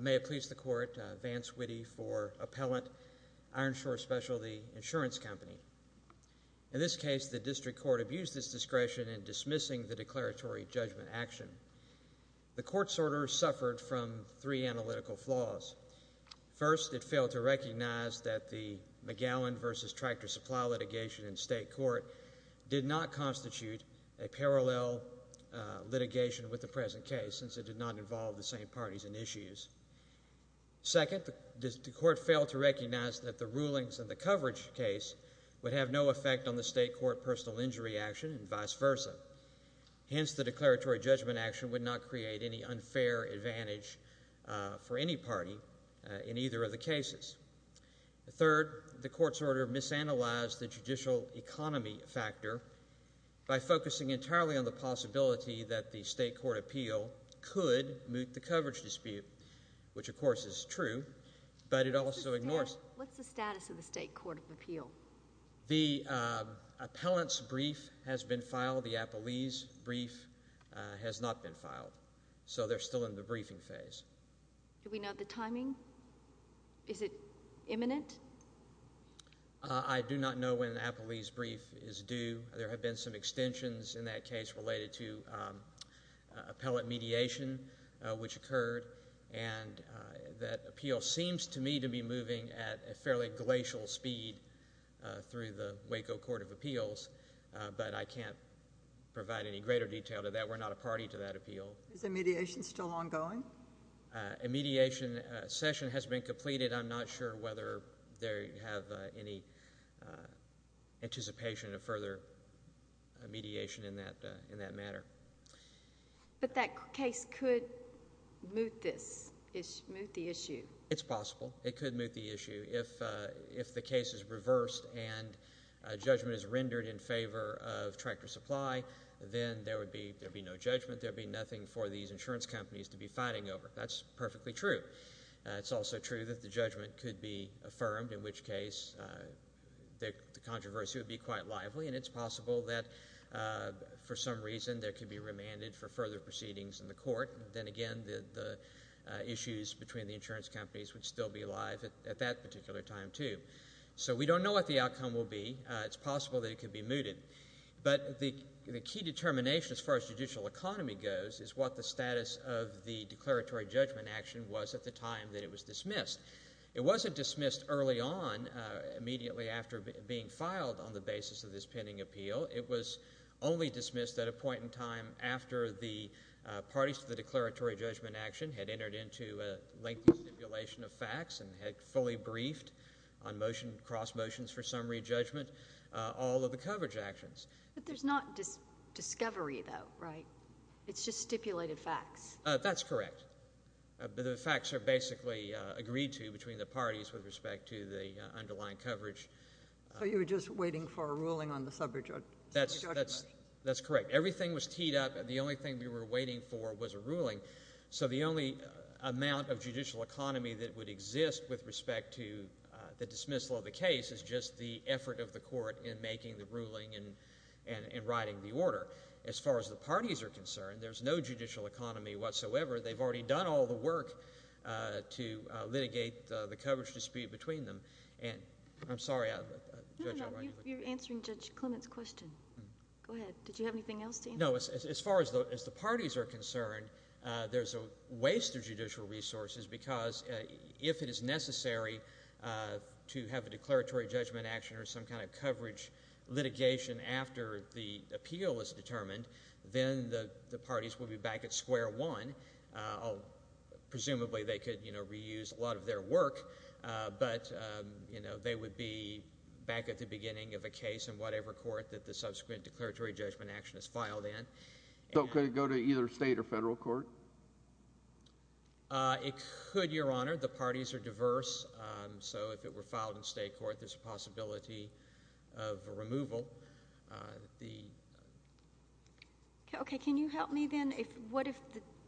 May it please the Court, Vance Witte for Appellant, Ironshore Specialty Insurance Company. In this case, the District Court abused its discretion in dismissing the declaratory judgment action. The Court's order suffered from three analytical flaws. First, it failed to recognize that the McGowan v. Tractor Supply litigation in state court did not constitute a parallel litigation with the present case, since it did not involve the same parties in issues. Second, the Court failed to recognize that the rulings in the coverage case would have no effect on the state court personal injury action, and vice versa. Hence, the declaratory judgment action would not create any unfair advantage for any party in either of the cases. Third, the Court's order misanalyzed the judicial economy factor by focusing entirely on the possibility that the state court appeal could moot the coverage dispute, which of course is true, but it also ignores... Mr. Dale, what's the status of the state court of appeal? The appellant's brief has been filed. The appellee's brief has not been filed, so they're still in the briefing phase. Do we know the timing? Is it imminent? I do not know when an appellee's brief is due. There have been some extensions in that case related to appellate mediation, which occurred, and that appeal seems to me to be moving at a fairly glacial speed through the Waco Court of Appeals, but I can't provide any greater detail to that. We're not a party to that appeal. Is the mediation still ongoing? A mediation session has been completed. I'm not sure whether they have any anticipation of further mediation in that matter. But that case could moot this, moot the issue. It's possible. It could moot the issue. If the case is reversed and judgment is rendered in favor of tractor supply, then there would be no judgment. There would be nothing for these insurance companies to be fighting over. That's perfectly true. It's also true that the judgment could be affirmed, in which case the controversy would be quite lively, and it's possible that for some reason there could be remanded for further proceedings in the court. Then again, the issues between the insurance companies would still be alive at that particular time too. So we don't know what the outcome will be. It's possible that it could be mooted. But the key determination, as far as judicial economy goes, is what the status of the declaratory judgment action was at the time that it was dismissed. It wasn't dismissed early on, immediately after being filed on the basis of this pending appeal. It was only dismissed at a point in time after the parties to the declaratory judgment action and had fully briefed on motion, cross motions for summary judgment, all of the coverage actions. But there's not discovery, though, right? It's just stipulated facts. That's correct. The facts are basically agreed to between the parties with respect to the underlying coverage. So you were just waiting for a ruling on the sub-judgment? That's correct. Everything was teed up, and the only thing we were waiting for was a ruling. So the only amount of judicial economy that would exist with respect to the dismissal of the case is just the effort of the court in making the ruling and writing the order. As far as the parties are concerned, there's no judicial economy whatsoever. They've already done all the work to litigate the coverage dispute between them. I'm sorry. No, no, you're answering Judge Clement's question. Go ahead. Did you have anything else to answer? No, as far as the parties are concerned, there's a waste of judicial resources because if it is necessary to have a declaratory judgment action or some kind of coverage litigation after the appeal is determined, then the parties will be back at square one. Presumably they could reuse a lot of their work, but they would be back at the beginning of a case in whatever court that the subsequent declaratory judgment action is filed in. So could it go to either state or federal court? It could, Your Honor. The parties are diverse. So if it were filed in state court, there's a possibility of removal. Okay. Can you help me then? What if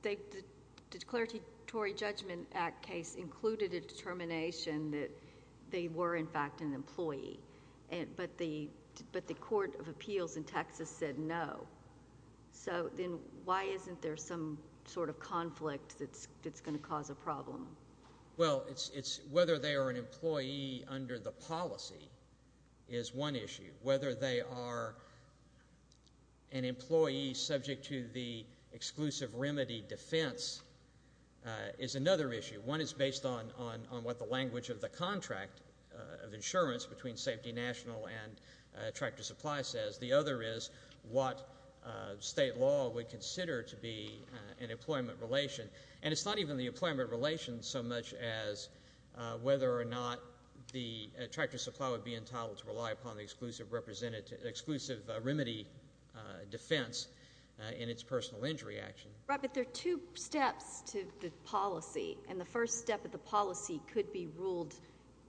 the declaratory judgment act case included a determination that they were, in fact, an employee, but the court of appeals in Texas said no? So then why isn't there some sort of conflict that's going to cause a problem? Well, it's whether they are an employee under the policy is one issue. Whether they are an employee subject to the exclusive remedy defense is another issue. One is based on what the language of the contract of insurance between Safety National and Tractor Supply says. The other is what state law would consider to be an employment relation. And it's not even the employment relation so much as whether or not the Tractor Supply would be entitled to rely upon the exclusive remedy defense in its personal injury action. Right, but there are two steps to the policy, and the first step of the policy could be ruled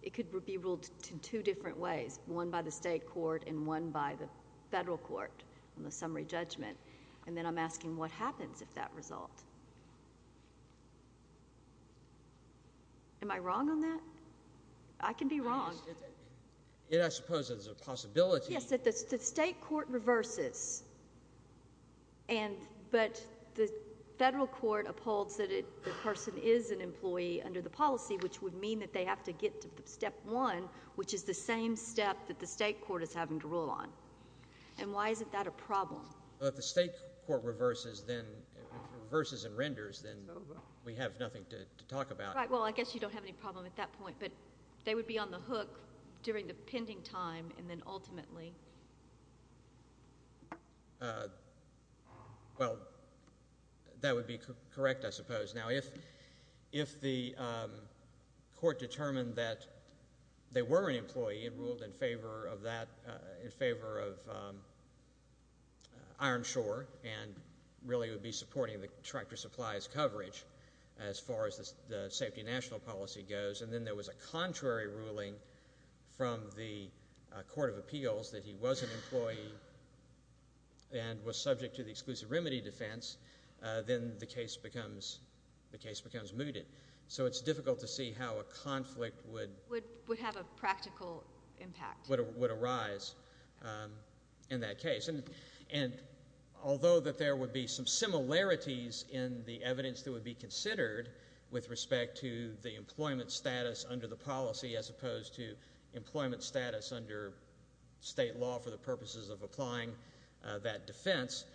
in two different ways, one by the state court and one by the federal court on the summary judgment. And then I'm asking what happens if that result. Am I wrong on that? I can be wrong. I suppose there's a possibility. Yes, the state court reverses. But the federal court upholds that the person is an employee under the policy, which would mean that they have to get to step one, which is the same step that the state court is having to rule on. And why is that a problem? Well, if the state court reverses and renders, then we have nothing to talk about. Right, well, I guess you don't have any problem at that point. But they would be on the hook during the pending time and then ultimately. Well, that would be correct, I suppose. Now, if the court determined that they were an employee and ruled in favor of that, in favor of Ironshore and really would be supporting the Tractor Supply's coverage as far as the safety national policy goes, and then there was a contrary ruling from the court of appeals that he was an employee and was subject to the exclusive remedy defense, then the case becomes mooted. So it's difficult to see how a conflict would arise in that case. And although that there would be some similarities in the evidence that would be considered with respect to the employment status under the policy as opposed to employment status under state law for the purposes of applying that defense,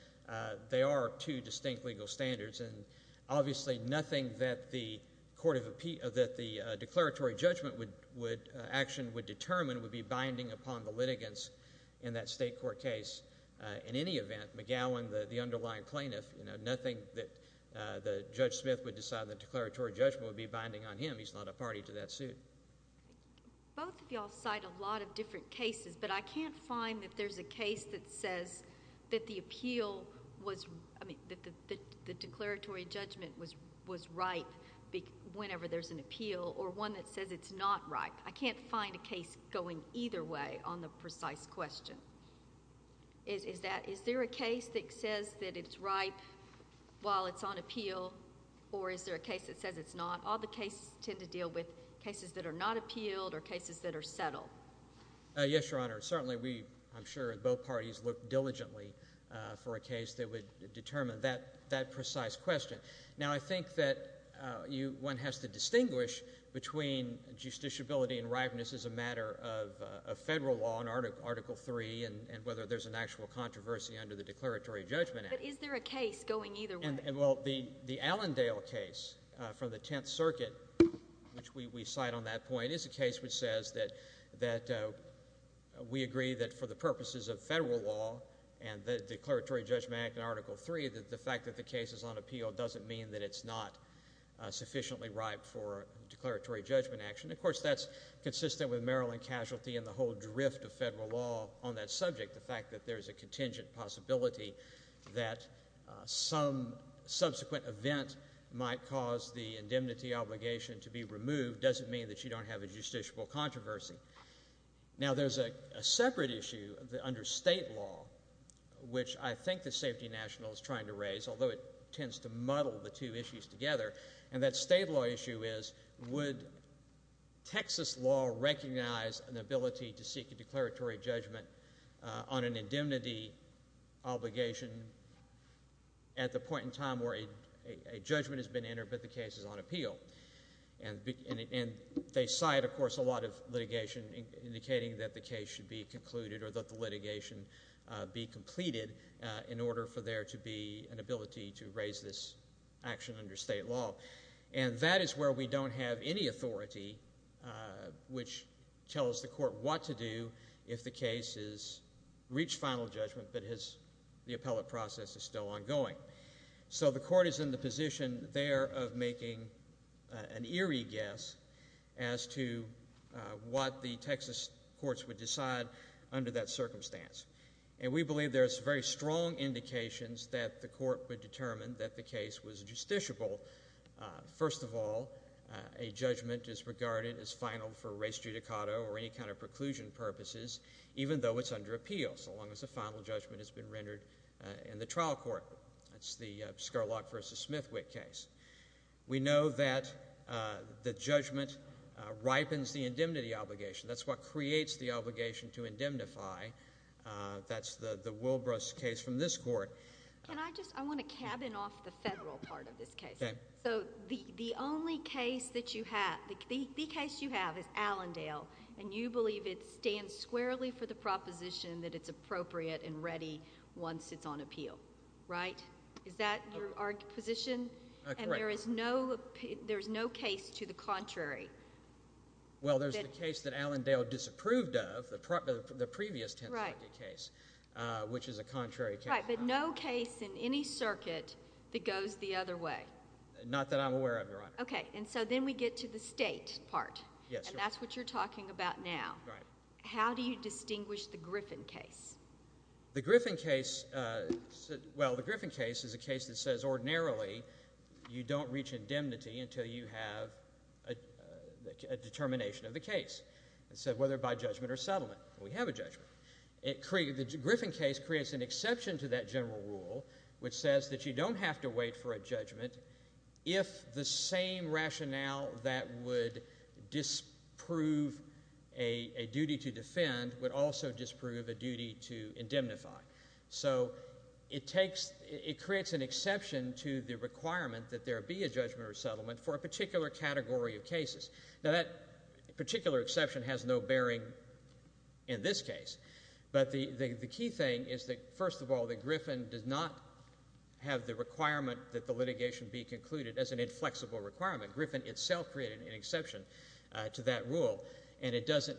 they are two distinct legal standards. And obviously nothing that the declaratory judgment action would determine would be binding upon the litigants in that state court case. In any event, McGowan, the underlying plaintiff, nothing that Judge Smith would decide the declaratory judgment would be binding on him. He's not a party to that suit. Both of you all cite a lot of different cases, but I can't find that there's a case that says that the appeal was, I mean, that the declaratory judgment was ripe whenever there's an appeal or one that says it's not ripe. I can't find a case going either way on the precise question. Is there a case that says that it's ripe while it's on appeal or is there a case that says it's not? All the cases tend to deal with cases that are not appealed or cases that are settled. Yes, Your Honor. Certainly we, I'm sure both parties, look diligently for a case that would determine that precise question. Now I think that one has to distinguish between justiciability and ripeness as a matter of federal law in Article III and whether there's an actual controversy under the Declaratory Judgment Act. But is there a case going either way? Well, the Allendale case from the Tenth Circuit, which we cite on that point, is a case which says that we agree that for the purposes of federal law and the Declaratory Judgment Act and Article III, the fact that the case is on appeal doesn't mean that it's not sufficiently ripe for declaratory judgment action. Of course, that's consistent with Maryland casualty and the whole drift of federal law on that subject, the fact that there's a contingent possibility that some subsequent event might cause the indemnity obligation to be removed doesn't mean that you don't have a justiciable controversy. Now there's a separate issue under state law, which I think the Safety National is trying to raise, although it tends to muddle the two issues together, and that state law issue is would Texas law recognize an ability to seek a declaratory judgment on an indemnity obligation at the point in time where a judgment has been entered but the case is on appeal? And they cite, of course, a lot of litigation indicating that the case should be concluded or that the litigation be completed in order for there to be an ability to raise this action under state law, and that is where we don't have any authority which tells the court what to do if the case has reached final judgment but the appellate process is still ongoing. So the court is in the position there of making an eerie guess as to what the Texas courts would decide under that circumstance, and we believe there's very strong indications that the court would determine that the case was justiciable. First of all, a judgment is regarded as final for race judicato or any kind of preclusion purposes even though it's under appeal so long as the final judgment has been rendered in the trial court. That's the Scurlock v. Smithwick case. We know that the judgment ripens the indemnity obligation. That's what creates the obligation to indemnify. That's the Wilbrus case from this court. Can I just? I want to cabin off the federal part of this case. Okay. So the only case that you have, the case you have is Allendale, and you believe it stands squarely for the proposition that it's appropriate and ready once it's on appeal, right? Is that your position? Correct. And there is no case to the contrary? Well, there's the case that Allendale disapproved of, the previous Tenth Circuit case, which is a contrary case. Right, but no case in any circuit that goes the other way? Not that I'm aware of, Your Honor. Okay, and so then we get to the state part, and that's what you're talking about now. Right. How do you distinguish the Griffin case? The Griffin case is a case that says ordinarily you don't reach indemnity until you have a determination of the case, whether by judgment or settlement. We have a judgment. The Griffin case creates an exception to that general rule, which says that you don't have to wait for a judgment if the same rationale that would disprove a duty to defend would also disprove a duty to indemnify. So it creates an exception to the requirement that there be a judgment or settlement for a particular category of cases. Now, that particular exception has no bearing in this case, but the key thing is that, first of all, that Griffin does not have the requirement that the litigation be concluded as an inflexible requirement. Griffin itself created an exception to that rule, and it doesn't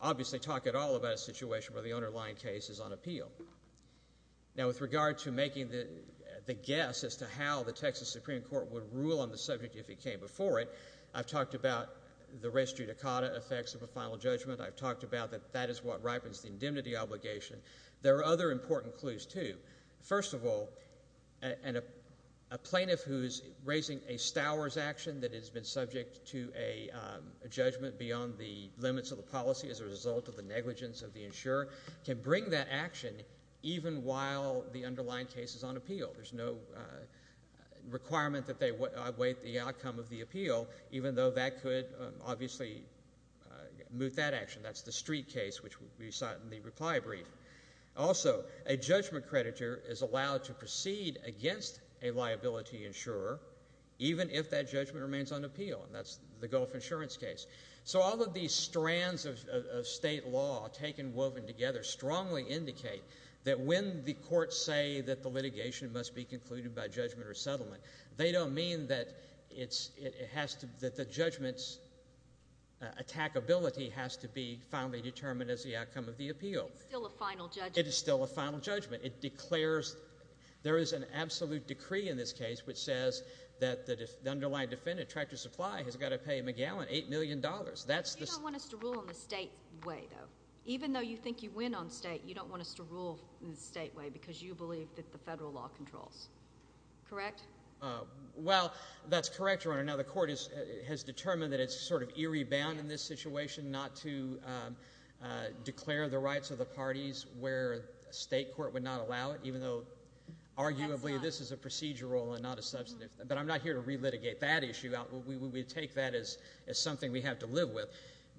obviously talk at all about a situation where the underlying case is on appeal. Now, with regard to making the guess as to how the Texas Supreme Court would rule on the subject if it came before it, I've talked about the res judicata effects of a final judgment. I've talked about that that is what ripens the indemnity obligation. There are other important clues, too. First of all, a plaintiff who is raising a Stowers action that has been subject to a judgment beyond the limits of the policy as a result of the negligence of the insurer can bring that action even while the underlying case is on appeal. There's no requirement that they await the outcome of the appeal, even though that could obviously moot that action. That's the Street case, which we saw in the reply brief. Also, a judgment creditor is allowed to proceed against a liability insurer even if that judgment remains on appeal, and that's the Gulf insurance case. So all of these strands of state law taken, woven together, strongly indicate that when the courts say that the litigation must be concluded by judgment or settlement, they don't mean that the judgment's attackability has to be finally determined as the outcome of the appeal. It's still a final judgment. It is still a final judgment. It declares there is an absolute decree in this case which says that the underlying defendant, tractor supply, has got to pay McGowan $8 million. You don't want us to rule in the state way, though. Even though you think you win on state, you don't want us to rule in the state way because you believe that the federal law controls. Correct? Well, that's correct, Your Honor. Now, the court has determined that it's sort of eerie bound in this situation not to declare the rights of the parties where a state court would not allow it, even though arguably this is a procedural and not a substantive. But I'm not here to relitigate that issue. We take that as something we have to live with.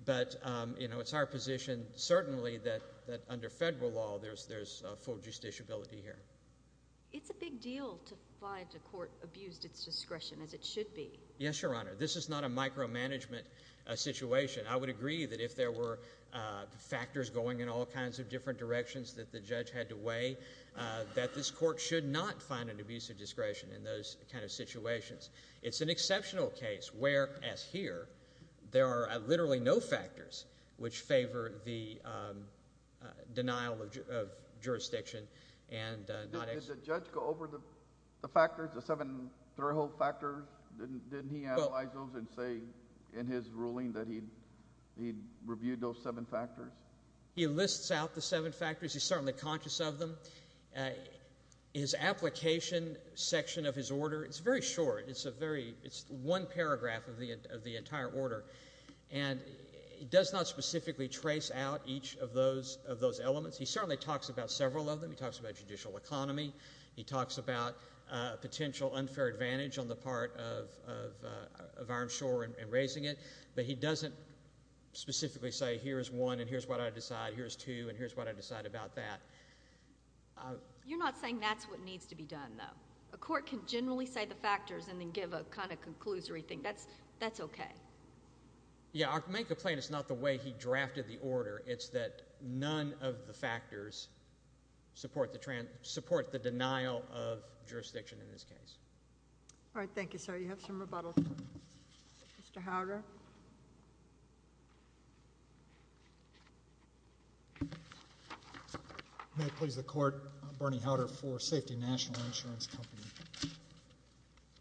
But, you know, it's our position certainly that under federal law there's full justiciability here. It's a big deal to find a court abused its discretion as it should be. Yes, Your Honor. This is not a micromanagement situation. I would agree that if there were factors going in all kinds of different directions that the judge had to weigh that this court should not find an abuse of discretion in those kind of situations. It's an exceptional case where, as here, there are literally no factors which favor the denial of jurisdiction. Did the judge go over the factors, the seven throw-hole factors? Didn't he analyze those and say in his ruling that he reviewed those seven factors? He lists out the seven factors. He's certainly conscious of them. His application section of his order, it's very short. It's one paragraph of the entire order. And he does not specifically trace out each of those elements. He certainly talks about several of them. He talks about judicial economy. He talks about potential unfair advantage on the part of Ironshore in raising it. But he doesn't specifically say here's one and here's what I decide, here's two and here's what I decide about that. You're not saying that's what needs to be done, though. A court can generally say the factors and then give a kind of conclusory thing. That's okay. Yeah, I may complain it's not the way he drafted the order. It's that none of the factors support the denial of jurisdiction in this case. All right, thank you, sir. You have some rebuttal. Mr. Howder. Mr. Howder. May it please the Court, Bernie Howder for Safety National Insurance Company.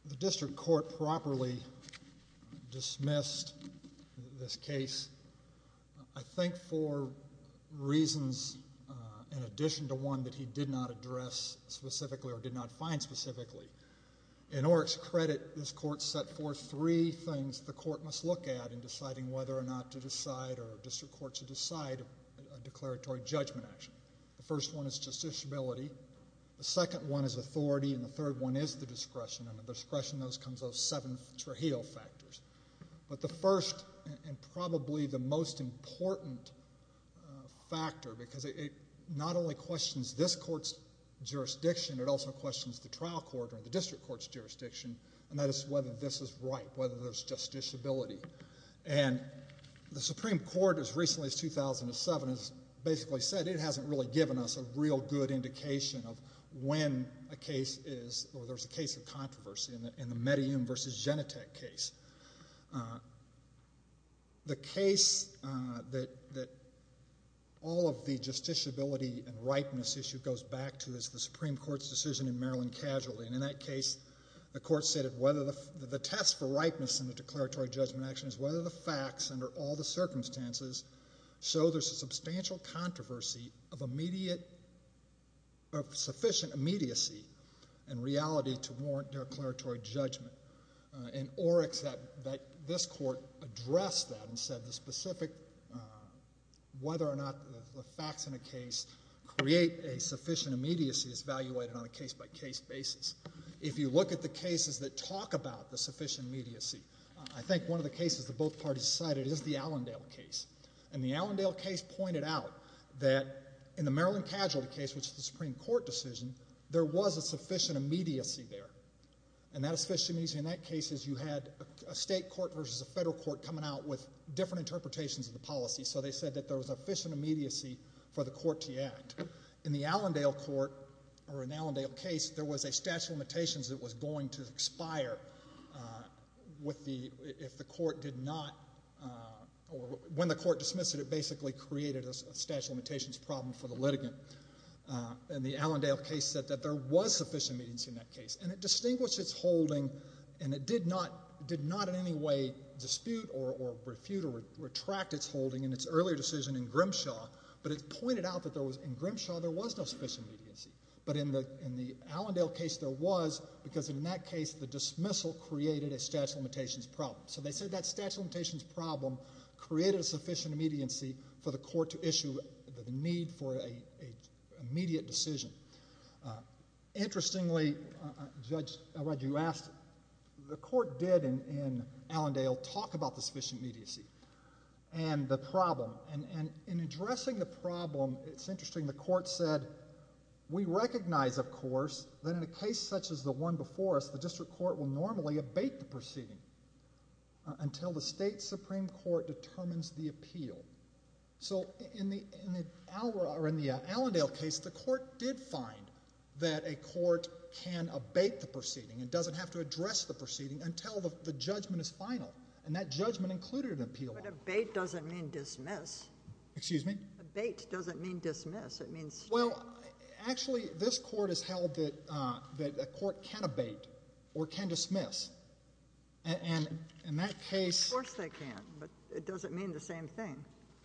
The district court properly dismissed this case, I think, for reasons in addition to one that he did not address specifically or did not find specifically. In Oreck's credit, this court set forth three things the court must look at in deciding whether or not to decide or a district court should decide a declaratory judgment action. The first one is justiciability. The second one is authority. And the third one is the discretion. Under discretion, those come as those seven Trujillo factors. But the first and probably the most important factor, because it not only questions this court's jurisdiction, it also questions the trial court or the district court's jurisdiction, and that is whether this is right, whether there's justiciability. And the Supreme Court as recently as 2007 has basically said it hasn't really given us a real good indication of when a case is or there's a case of controversy in the Medellin v. Genentech case. The case that all of the justiciability and ripeness issue goes back to is the Supreme Court's decision in Maryland Casualty. And in that case, the court said the test for ripeness in the declaratory judgment action is whether the facts under all the circumstances show there's a substantial controversy of sufficient immediacy and reality to warrant declaratory judgment. And Oreck said that this court addressed that and said the specific whether or not the facts in a case create a sufficient immediacy is evaluated on a case-by-case basis. If you look at the cases that talk about the sufficient immediacy, I think one of the cases that both parties cited is the Allendale case. And the Allendale case pointed out that in the Maryland Casualty case, which is the Supreme Court decision, there was a sufficient immediacy there. And that sufficient immediacy in that case is you had a state court versus a federal court coming out with different interpretations of the policy. So they said that there was sufficient immediacy for the court to act. In the Allendale court or in the Allendale case, there was a statute of limitations that was going to expire if the court did not or when the court dismissed it, it basically created a statute of limitations problem for the litigant. And the Allendale case said that there was sufficient immediacy in that case. And it distinguished its holding and it did not in any way dispute or refute or retract its holding in its earlier decision in Grimshaw, but it pointed out that in Grimshaw there was no sufficient immediacy. But in the Allendale case there was because in that case the dismissal created a statute of limitations problem. So they said that statute of limitations problem created a sufficient immediacy for the court to issue the need for an immediate decision. Interestingly, Judge Aradu asked, the court did in Allendale talk about the sufficient immediacy and the problem. And in addressing the problem, it's interesting, the court said, we recognize of course that in a case such as the one before us, the district court will normally abate the proceeding until the state supreme court determines the appeal. So in the Allendale case, the court did find that a court can abate the proceeding and doesn't have to address the proceeding until the judgment is final. And that judgment included an appeal. But abate doesn't mean dismiss. Excuse me? Abate doesn't mean dismiss. Well, actually this court has held that a court can abate or can dismiss. And in that case —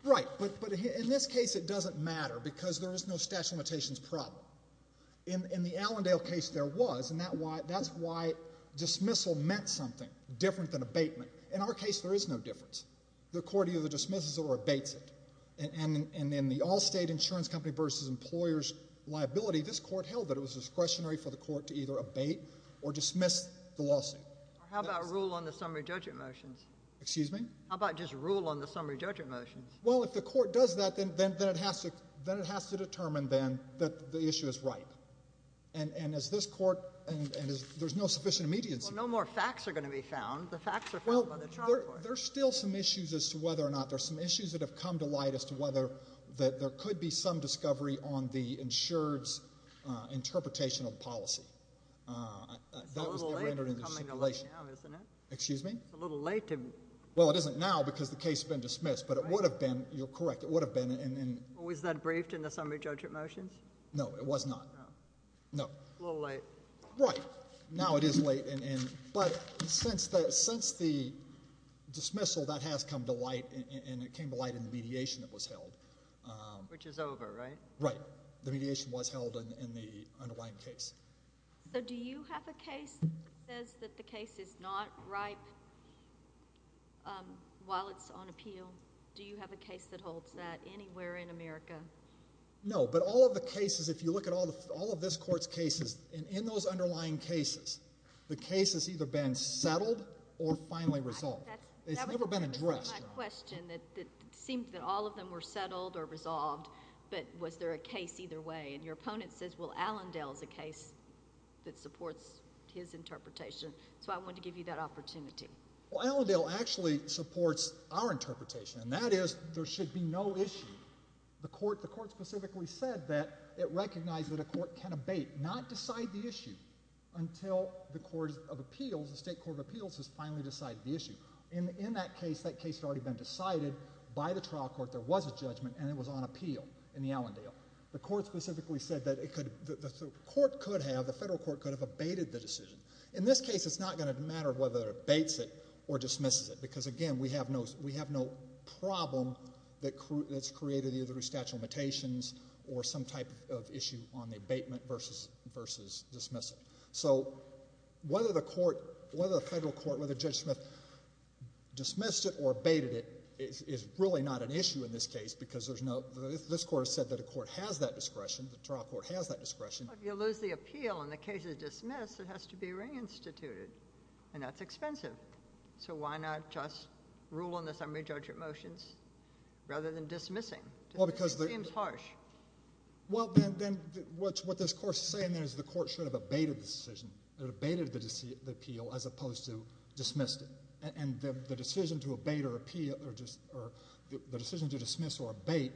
Right, but in this case it doesn't matter because there is no statute of limitations problem. In the Allendale case there was, and that's why dismissal meant something different than abatement. In our case there is no difference. The court either dismisses or abates it. And in the Allstate Insurance Company v. Employers Liability, this court held that it was discretionary for the court to either abate or dismiss the lawsuit. How about rule on the summary judgment motions? Excuse me? How about just rule on the summary judgment motions? Well, if the court does that, then it has to determine, then, that the issue is ripe. And as this court — and there's no sufficient immediacy. Well, no more facts are going to be found. The facts are found by the trial court. Well, there's still some issues as to whether or not — there's some issues that have come to light as to whether there could be some discovery on the insured's interpretation of the policy. It's a little late in coming to light now, isn't it? Excuse me? It's a little late to — Well, it isn't now because the case has been dismissed. But it would have been — you're correct. It would have been in — Was that briefed in the summary judgment motions? No, it was not. No. No. A little late. Right. Now it is late. But since the dismissal, that has come to light, and it came to light in the mediation that was held. Which is over, right? Right. The mediation was held in the underlying case. So do you have a case that says that the case is not ripe while it's on appeal? Do you have a case that holds that anywhere in America? No. But all of the cases, if you look at all of this court's cases, in those underlying cases, the case has either been settled or finally resolved. It's never been addressed. That's my question. It seemed that all of them were settled or resolved. But was there a case either way? And your opponent says, well, Allendale is a case that supports his interpretation. So I wanted to give you that opportunity. Well, Allendale actually supports our interpretation, and that is there should be no issue. The court specifically said that it recognized that a court can abate, not decide the issue, until the court of appeals, the state court of appeals, has finally decided the issue. In that case, that case had already been decided by the trial court. There was a judgment, and it was on appeal in the Allendale. The court specifically said that the court could have, the federal court could have abated the decision. In this case, it's not going to matter whether it abates it or dismisses it, because, again, we have no problem that's created either through statute of limitations or some type of issue on the abatement versus dismissal. So whether the federal court, whether Judge Smith dismissed it or abated it, is really not an issue in this case because there's no, this court has said that the court has that discretion, the trial court has that discretion. Well, if you lose the appeal and the case is dismissed, it has to be reinstituted, and that's expensive. So why not just rule in the summary judgment motions rather than dismissing? It seems harsh. Well, then what this court is saying is the court should have abated the decision, abated the appeal as opposed to dismissed it. And the decision to abate or appeal or the decision to dismiss or abate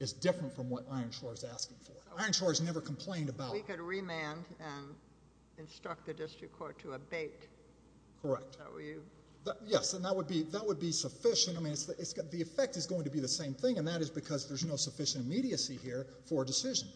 is different from what Ironshore is asking for. Ironshore has never complained about it. We could remand and instruct the district court to abate. Correct. Yes, and that would be sufficient. I mean, the effect is going to be the same thing, and that is because there's no sufficient immediacy here for a decision.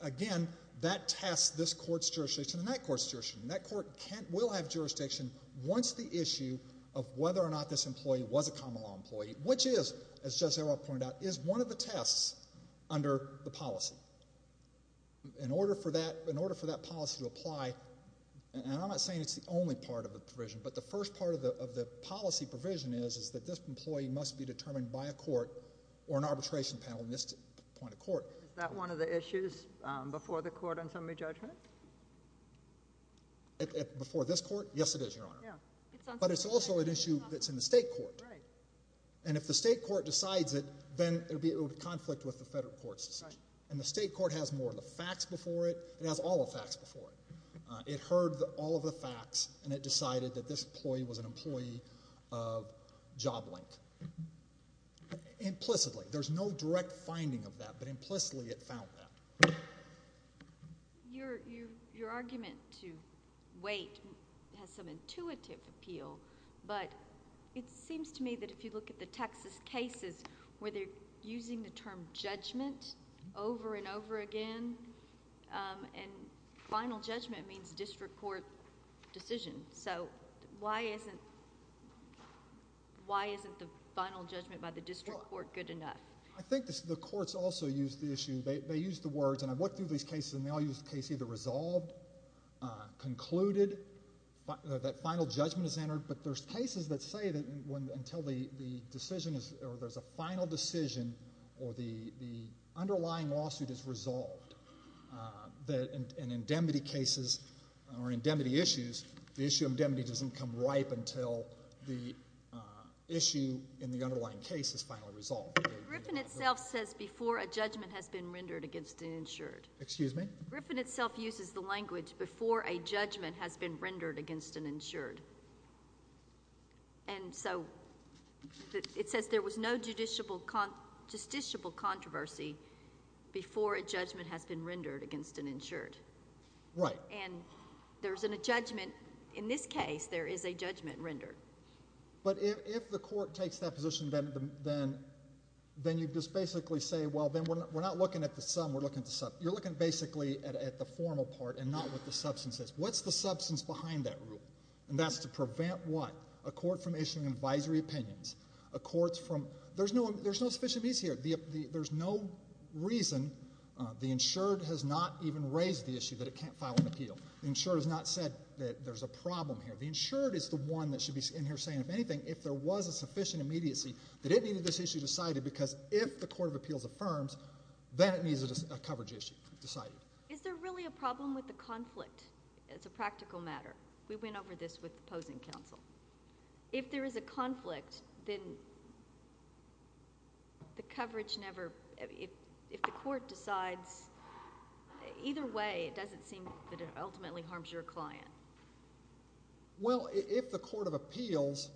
Again, that tests this court's jurisdiction and that court's jurisdiction. And that court will have jurisdiction once the issue of whether or not this employee was a common law employee, which is, as Judge Seward pointed out, is one of the tests under the policy. In order for that policy to apply, and I'm not saying it's the only part of the provision, but the first part of the policy provision is that this employee must be determined by a court or an arbitration panel in this point of court. Is that one of the issues before the court on summary judgment? Before this court? Yes, it is, Your Honor. Yeah. But it's also an issue that's in the state court. Right. And if the state court decides it, then it would be in conflict with the federal court's decision. Right. And the state court has more of the facts before it. It has all the facts before it. It heard all of the facts, and it decided that this employee was an employee of job length. Implicitly, there's no direct finding of that, but implicitly it found that. Your argument to wait has some intuitive appeal, but it seems to me that if you look at the Texas cases where they're using the term judgment over and over again, and final judgment means district court decision. So why isn't the final judgment by the district court good enough? I think the courts also use the issue. They use the words, and I've looked through these cases, and they all use the case either resolved, concluded, that final judgment is entered, but there's cases that say that until the decision is or there's a final decision or the underlying lawsuit is resolved. In indemnity cases or indemnity issues, the issue of indemnity doesn't come ripe until the issue in the underlying case is finally resolved. Griffin itself says before a judgment has been rendered against an insured. Excuse me? Griffin itself uses the language before a judgment has been rendered against an insured. And so it says there was no justiciable controversy before a judgment has been rendered against an insured. Right. And there isn't a judgment. In this case, there is a judgment rendered. But if the court takes that position, then you just basically say, well, then we're not looking at the sum. You're looking basically at the formal part and not what the substance is. What's the substance behind that rule? And that's to prevent what? A court from issuing advisory opinions. There's no sufficient reason here. There's no reason the insured has not even raised the issue that it can't file an appeal. The insured has not said that there's a problem here. The insured is the one that should be in here saying, if anything, if there was a sufficient immediacy, that it needed this issue decided because if the Court of Appeals affirms, then it needs a coverage issue decided. Is there really a problem with the conflict as a practical matter? We went over this with the opposing counsel. If there is a conflict, then the coverage never – Either way, it doesn't seem that it ultimately harms your client. Well, if the Court of Appeals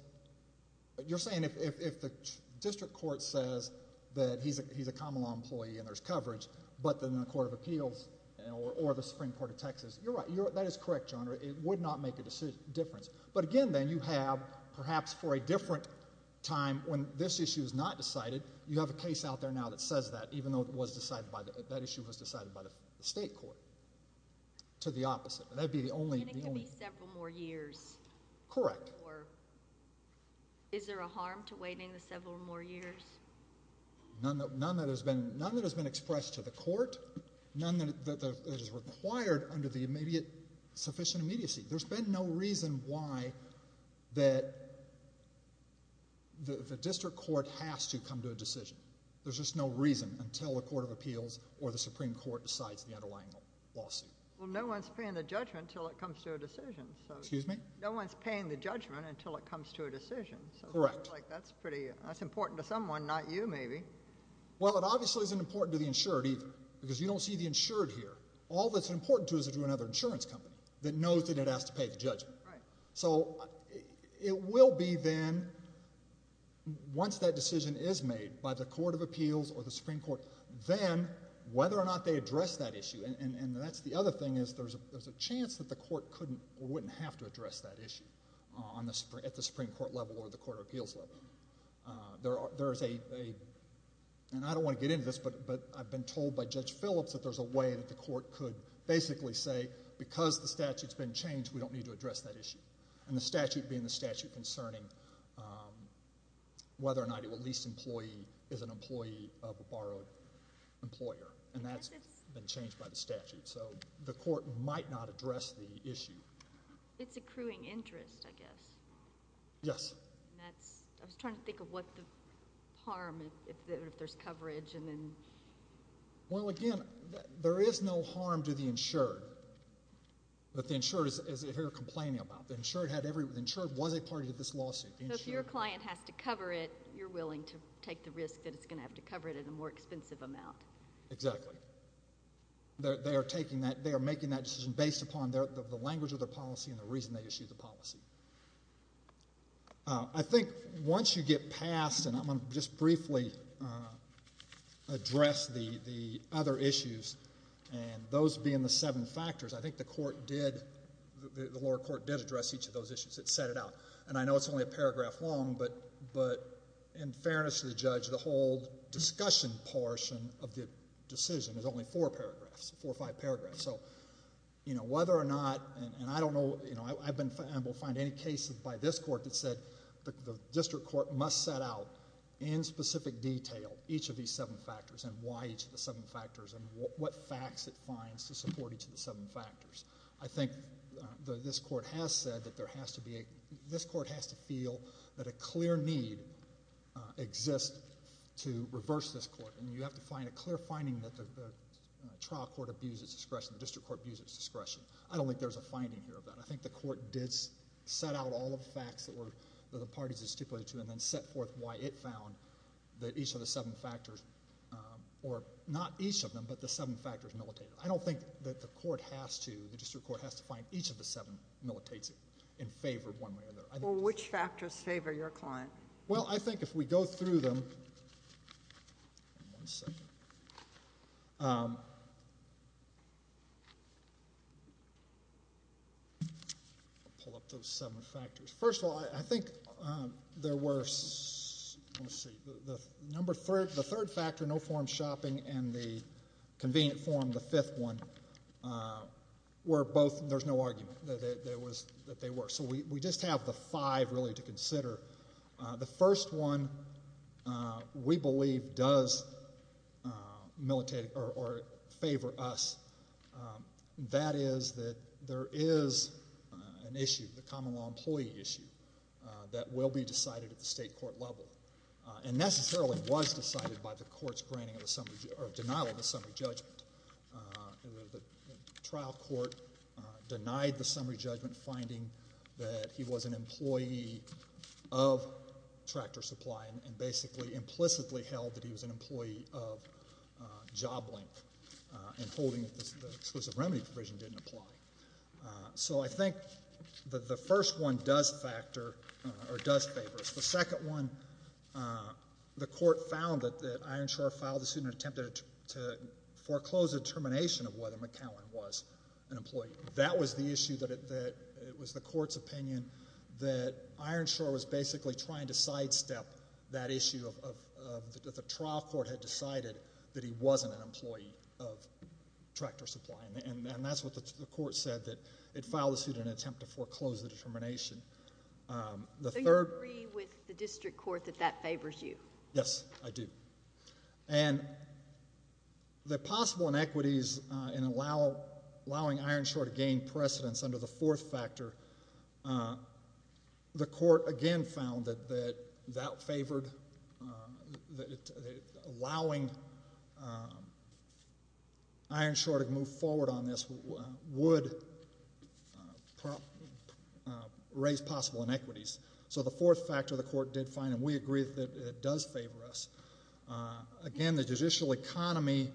– you're saying if the district court says that he's a common law employee and there's coverage, but then the Court of Appeals or the Supreme Court of Texas, you're right, that is correct, John, it would not make a difference. But again, then, you have perhaps for a different time, when this issue is not decided, you have a case out there now that says that, even though that issue was decided by the state court, to the opposite. That would be the only – And it could be several more years. Correct. Or is there a harm to waiting the several more years? None that has been expressed to the court, none that is required under the sufficient immediacy. There's been no reason why the district court has to come to a decision. There's just no reason until the Court of Appeals or the Supreme Court decides the underlying lawsuit. Well, no one's paying the judgment until it comes to a decision. Excuse me? No one's paying the judgment until it comes to a decision. Correct. So that's pretty – that's important to someone, not you, maybe. Well, it obviously isn't important to the insured either, because you don't see the insured here. All that's important to is another insurance company that knows that it has to pay the judgment. Right. So it will be then, once that decision is made by the Court of Appeals or the Supreme Court, then whether or not they address that issue. And that's the other thing is there's a chance that the court couldn't or wouldn't have to address that issue at the Supreme Court level or the Court of Appeals level. There's a – and I don't want to get into this, but I've been told by Judge Phillips that there's a way that the court could basically say, because the statute's been changed, we don't need to address that issue. And the statute being the statute concerning whether or not at least an employee is an employee of a borrowed employer. And that's been changed by the statute. So the court might not address the issue. It's accruing interest, I guess. Yes. And that's – I was trying to think of what the harm, if there's coverage. Well, again, there is no harm to the insured that the insured is here complaining about. The insured had every – the insured was a party to this lawsuit. So if your client has to cover it, you're willing to take the risk that it's going to have to cover it in a more expensive amount. Exactly. They are taking that – they are making that decision based upon the language of their policy and the reason they issued the policy. I think once you get past – and I'm going to just briefly address the other issues, and those being the seven factors, I think the court did – the lower court did address each of those issues. It set it out. And I know it's only a paragraph long, but in fairness to the judge, the whole discussion portion of the decision is only four paragraphs, four or five paragraphs. So whether or not – and I don't know – I've been – I won't find any case by this court that said the district court must set out in specific detail each of these seven factors and why each of the seven factors and what facts it finds to support each of the seven factors. I think this court has said that there has to be a – this court has to feel that a clear need exists to reverse this court. And you have to find a clear finding that the trial court abused its discretion, the district court abused its discretion. I don't think there's a finding here of that. I think the court did set out all the facts that the parties had stipulated to and then set forth why it found that each of the seven factors – or not each of them, but the seven factors militated. I don't think that the court has to – the district court has to find each of the seven militates it in favor of one way or the other. Well, which factors favor your client? Well, I think if we go through them – one second. I'll pull up those seven factors. First of all, I think there were – let me see. The third factor, no form shopping, and the convenient form, the fifth one, were both – there's no argument that they were. So we just have the five really to consider. The first one we believe does militate or favor us. That is that there is an issue, the common law employee issue, that will be decided at the state court level. And necessarily was decided by the court's granting of a summary – or denial of a summary judgment. The trial court denied the summary judgment, finding that he was an employee of Tractor Supply and basically implicitly held that he was an employee of JobLink and holding that the exclusive remedy provision didn't apply. So I think the first one does factor or does favor us. The second one, the court found that Ironshore filed a suit and attempted to foreclose a determination of whether McCowan was an employee. That was the issue that – it was the court's opinion that Ironshore was basically trying to sidestep that issue of the trial court had decided that he wasn't an employee of Tractor Supply. And that's what the court said, that it filed a suit in an attempt to foreclose the determination. So you agree with the district court that that favors you? Yes, I do. And the possible inequities in allowing Ironshore to gain precedence under the fourth factor, the court again found that that favored – allowing Ironshore to move forward on this would raise possible inequities. So the fourth factor the court did find, and we agree that it does favor us. Again, the judicial economy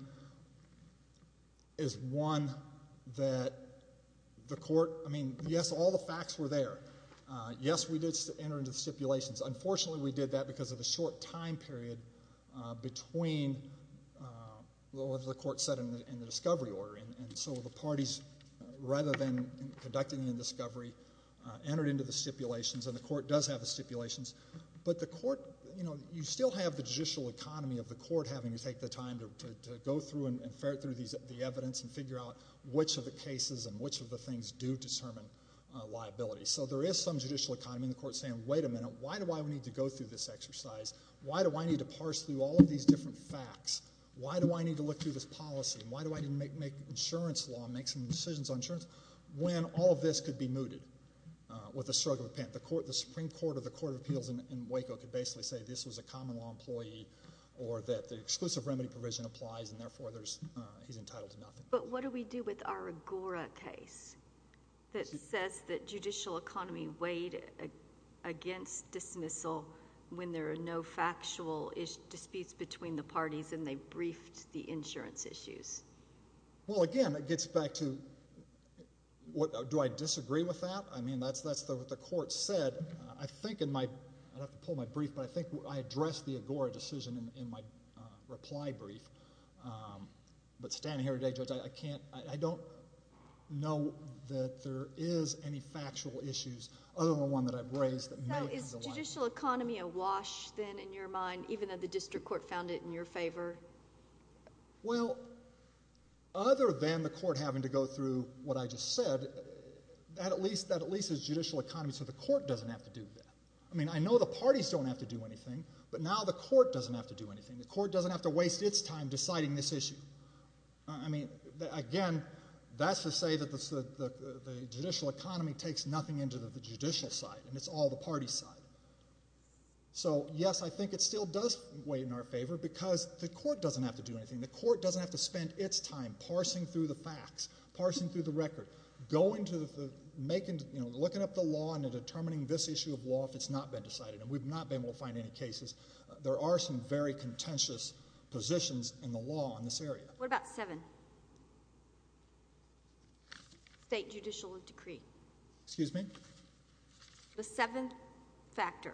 is one that the court – I mean, yes, all the facts were there. Yes, we did enter into stipulations. Unfortunately, we did that because of the short time period between what the court said and the discovery order. And so the parties, rather than conducting the discovery, entered into the stipulations, and the court does have the stipulations. But the court – you know, you still have the judicial economy of the court having to take the time to go through and ferret through the evidence and figure out which of the cases and which of the things do determine liability. So there is some judicial economy in the court saying, wait a minute, why do I need to go through this exercise? Why do I need to parse through all of these different facts? Why do I need to look through this policy? Why do I need to make insurance law and make some decisions on insurance? When all of this could be mooted with a stroke of a pen. The Supreme Court of the Court of Appeals in Waco could basically say this was a common law employee But what do we do with our Agora case that says that judicial economy weighed against dismissal when there are no factual disputes between the parties and they briefed the insurance issues? Well, again, it gets back to do I disagree with that? I mean, that's what the court said. I think in my – I'd have to pull my brief, but I think I addressed the Agora decision in my reply brief. But standing here today, Judge, I can't – I don't know that there is any factual issues other than the one that I've raised that may have the liability. So is judicial economy a wash then in your mind, even though the district court found it in your favor? Well, other than the court having to go through what I just said, that at least is judicial economy so the court doesn't have to do that. I mean, I know the parties don't have to do anything, but now the court doesn't have to do anything. The court doesn't have to waste its time deciding this issue. I mean, again, that's to say that the judicial economy takes nothing into the judicial side and it's all the party's side. So, yes, I think it still does weigh in our favor because the court doesn't have to do anything. The court doesn't have to spend its time parsing through the facts, parsing through the record, going to the – looking up the law and determining this issue of law if it's not been decided. And we've not been able to find any cases. There are some very contentious positions in the law in this area. What about seven? State judicial decree. Excuse me? The seventh factor.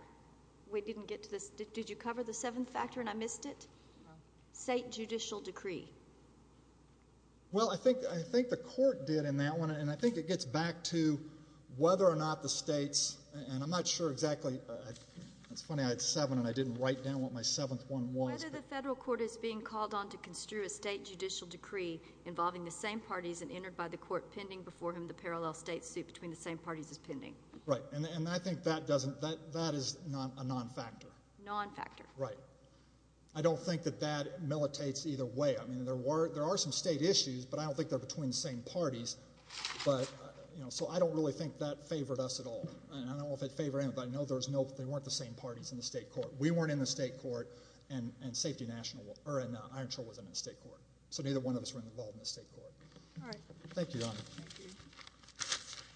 We didn't get to this. Did you cover the seventh factor and I missed it? No. State judicial decree. Well, I think the court did in that one, and I think it gets back to whether or not the states, and I'm not sure exactly – it's funny I had seven and I didn't write down what my seventh one was. Whether the federal court is being called on to construe a state judicial decree involving the same parties and entered by the court pending before him the parallel state suit between the same parties is pending. Right. And I think that doesn't – that is a non-factor. Non-factor. Right. I don't think that that militates either way. I mean, there are some state issues, but I don't think they're between the same parties. But, you know, so I don't really think that favored us at all. And I don't know if it favored anybody. I know there's no – they weren't the same parties in the state court. We weren't in the state court, and Iron Trail wasn't in the state court. So neither one of us were involved in the state court. All right. Thank you, Your Honor. Thank you. Thank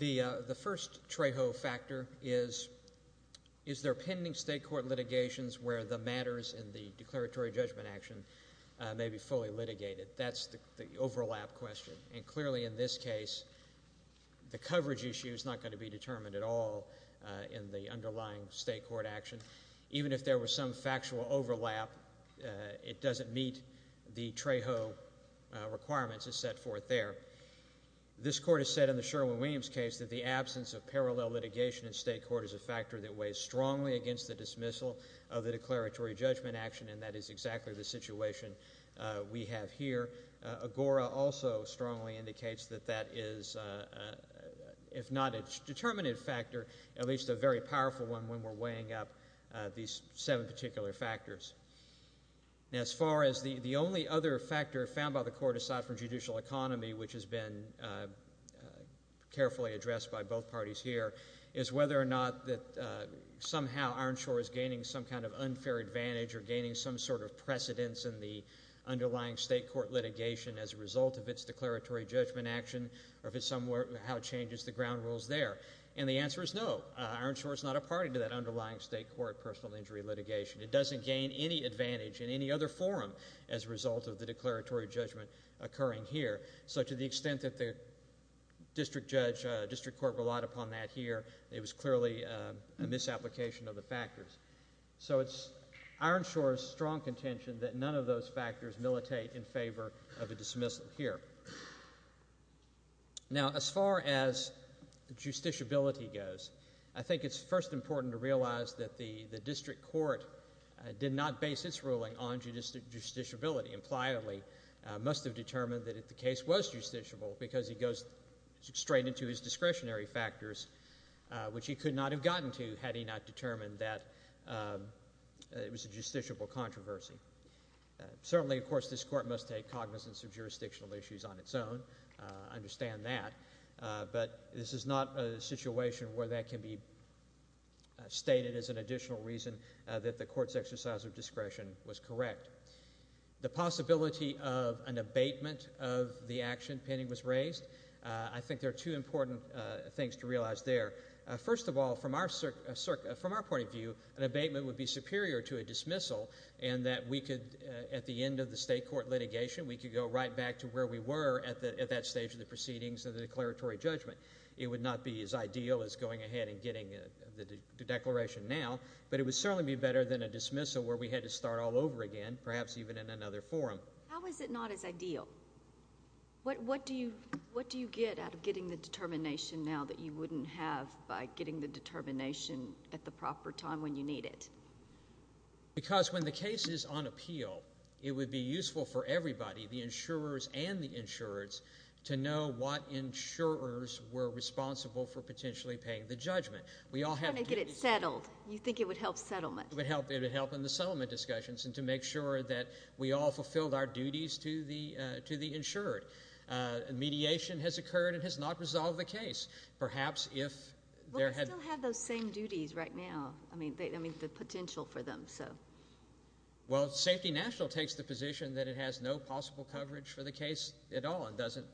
you. The first Trejo factor is, is there pending state court litigations where the matters in the declaratory judgment action may be fully litigated? That's the overlap question. And clearly in this case, the coverage issue is not going to be determined at all in the underlying state court action. Even if there were some factual overlap, it doesn't meet the Trejo requirements as set forth there. This court has said in the Sherwin-Williams case that the absence of parallel litigation in state court is a factor that weighs strongly against the dismissal of the declaratory judgment action, and that is exactly the situation we have here. Agora also strongly indicates that that is, if not a determinative factor, at least a very powerful one when we're weighing up these seven particular factors. As far as the only other factor found by the court aside from judicial economy, which has been carefully addressed by both parties here, is whether or not that somehow Ironshore is gaining some kind of unfair advantage or gaining some sort of precedence in the underlying state court litigation as a result of its declaratory judgment action or how it changes the ground rules there. And the answer is no. Ironshore is not a party to that underlying state court personal injury litigation. It doesn't gain any advantage in any other forum as a result of the declaratory judgment occurring here. So to the extent that the district court relied upon that here, it was clearly a misapplication of the factors. So it's Ironshore's strong contention that none of those factors militate in favor of a dismissal here. Now, as far as justiciability goes, I think it's first important to realize that the district court did not base its ruling on justiciability. Impliably, it must have determined that the case was justiciable because it goes straight into its discretionary factors, which it could not have gotten to had it not determined that it was a justiciable controversy. Certainly, of course, this court must take cognizance of jurisdictional issues on its own. I understand that. But this is not a situation where that can be stated as an additional reason that the court's exercise of discretion was correct. The possibility of an abatement of the action pending was raised. I think there are two important things to realize there. First of all, from our point of view, an abatement would be superior to a dismissal in that we could, at the end of the state court litigation, we could go right back to where we were at that stage of the proceedings of the declaratory judgment. It would not be as ideal as going ahead and getting the declaration now, but it would certainly be better than a dismissal where we had to start all over again, perhaps even in another forum. How is it not as ideal? What do you get out of getting the determination now that you wouldn't have by getting the determination at the proper time when you need it? Because when the case is on appeal, it would be useful for everybody, the insurers and the insureds, to know what insurers were responsible for potentially paying the judgment. We all have duties. You want to get it settled. You think it would help settlement. It would help in the settlement discussions and to make sure that we all fulfilled our duties to the insured. Mediation has occurred and has not resolved the case. Perhaps if there had been… Well, they still have those same duties right now. I mean, the potential for them. Well, Safety National takes the position that it has no possible coverage for the case at all. It doesn't.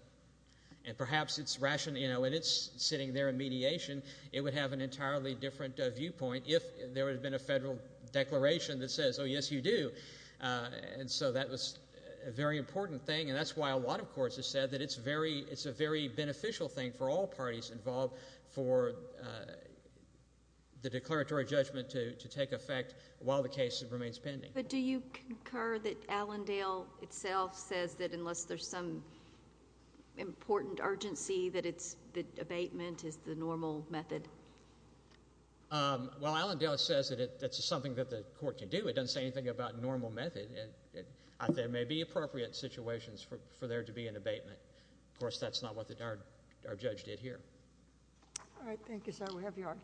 And perhaps when it's sitting there in mediation, it would have an entirely different viewpoint if there had been a federal declaration that says, oh, yes, you do. And so that was a very important thing, and that's why a lot of courts have said that it's a very beneficial thing for all parties involved for the declaratory judgment to take effect while the case remains pending. But do you concur that Allendale itself says that unless there's some important urgency that abatement is the normal method? Well, Allendale says that it's something that the court can do. It doesn't say anything about normal method. There may be appropriate situations for there to be an abatement. Of course, that's not what our judge did here. All right. Thank you, sir. We have your argument.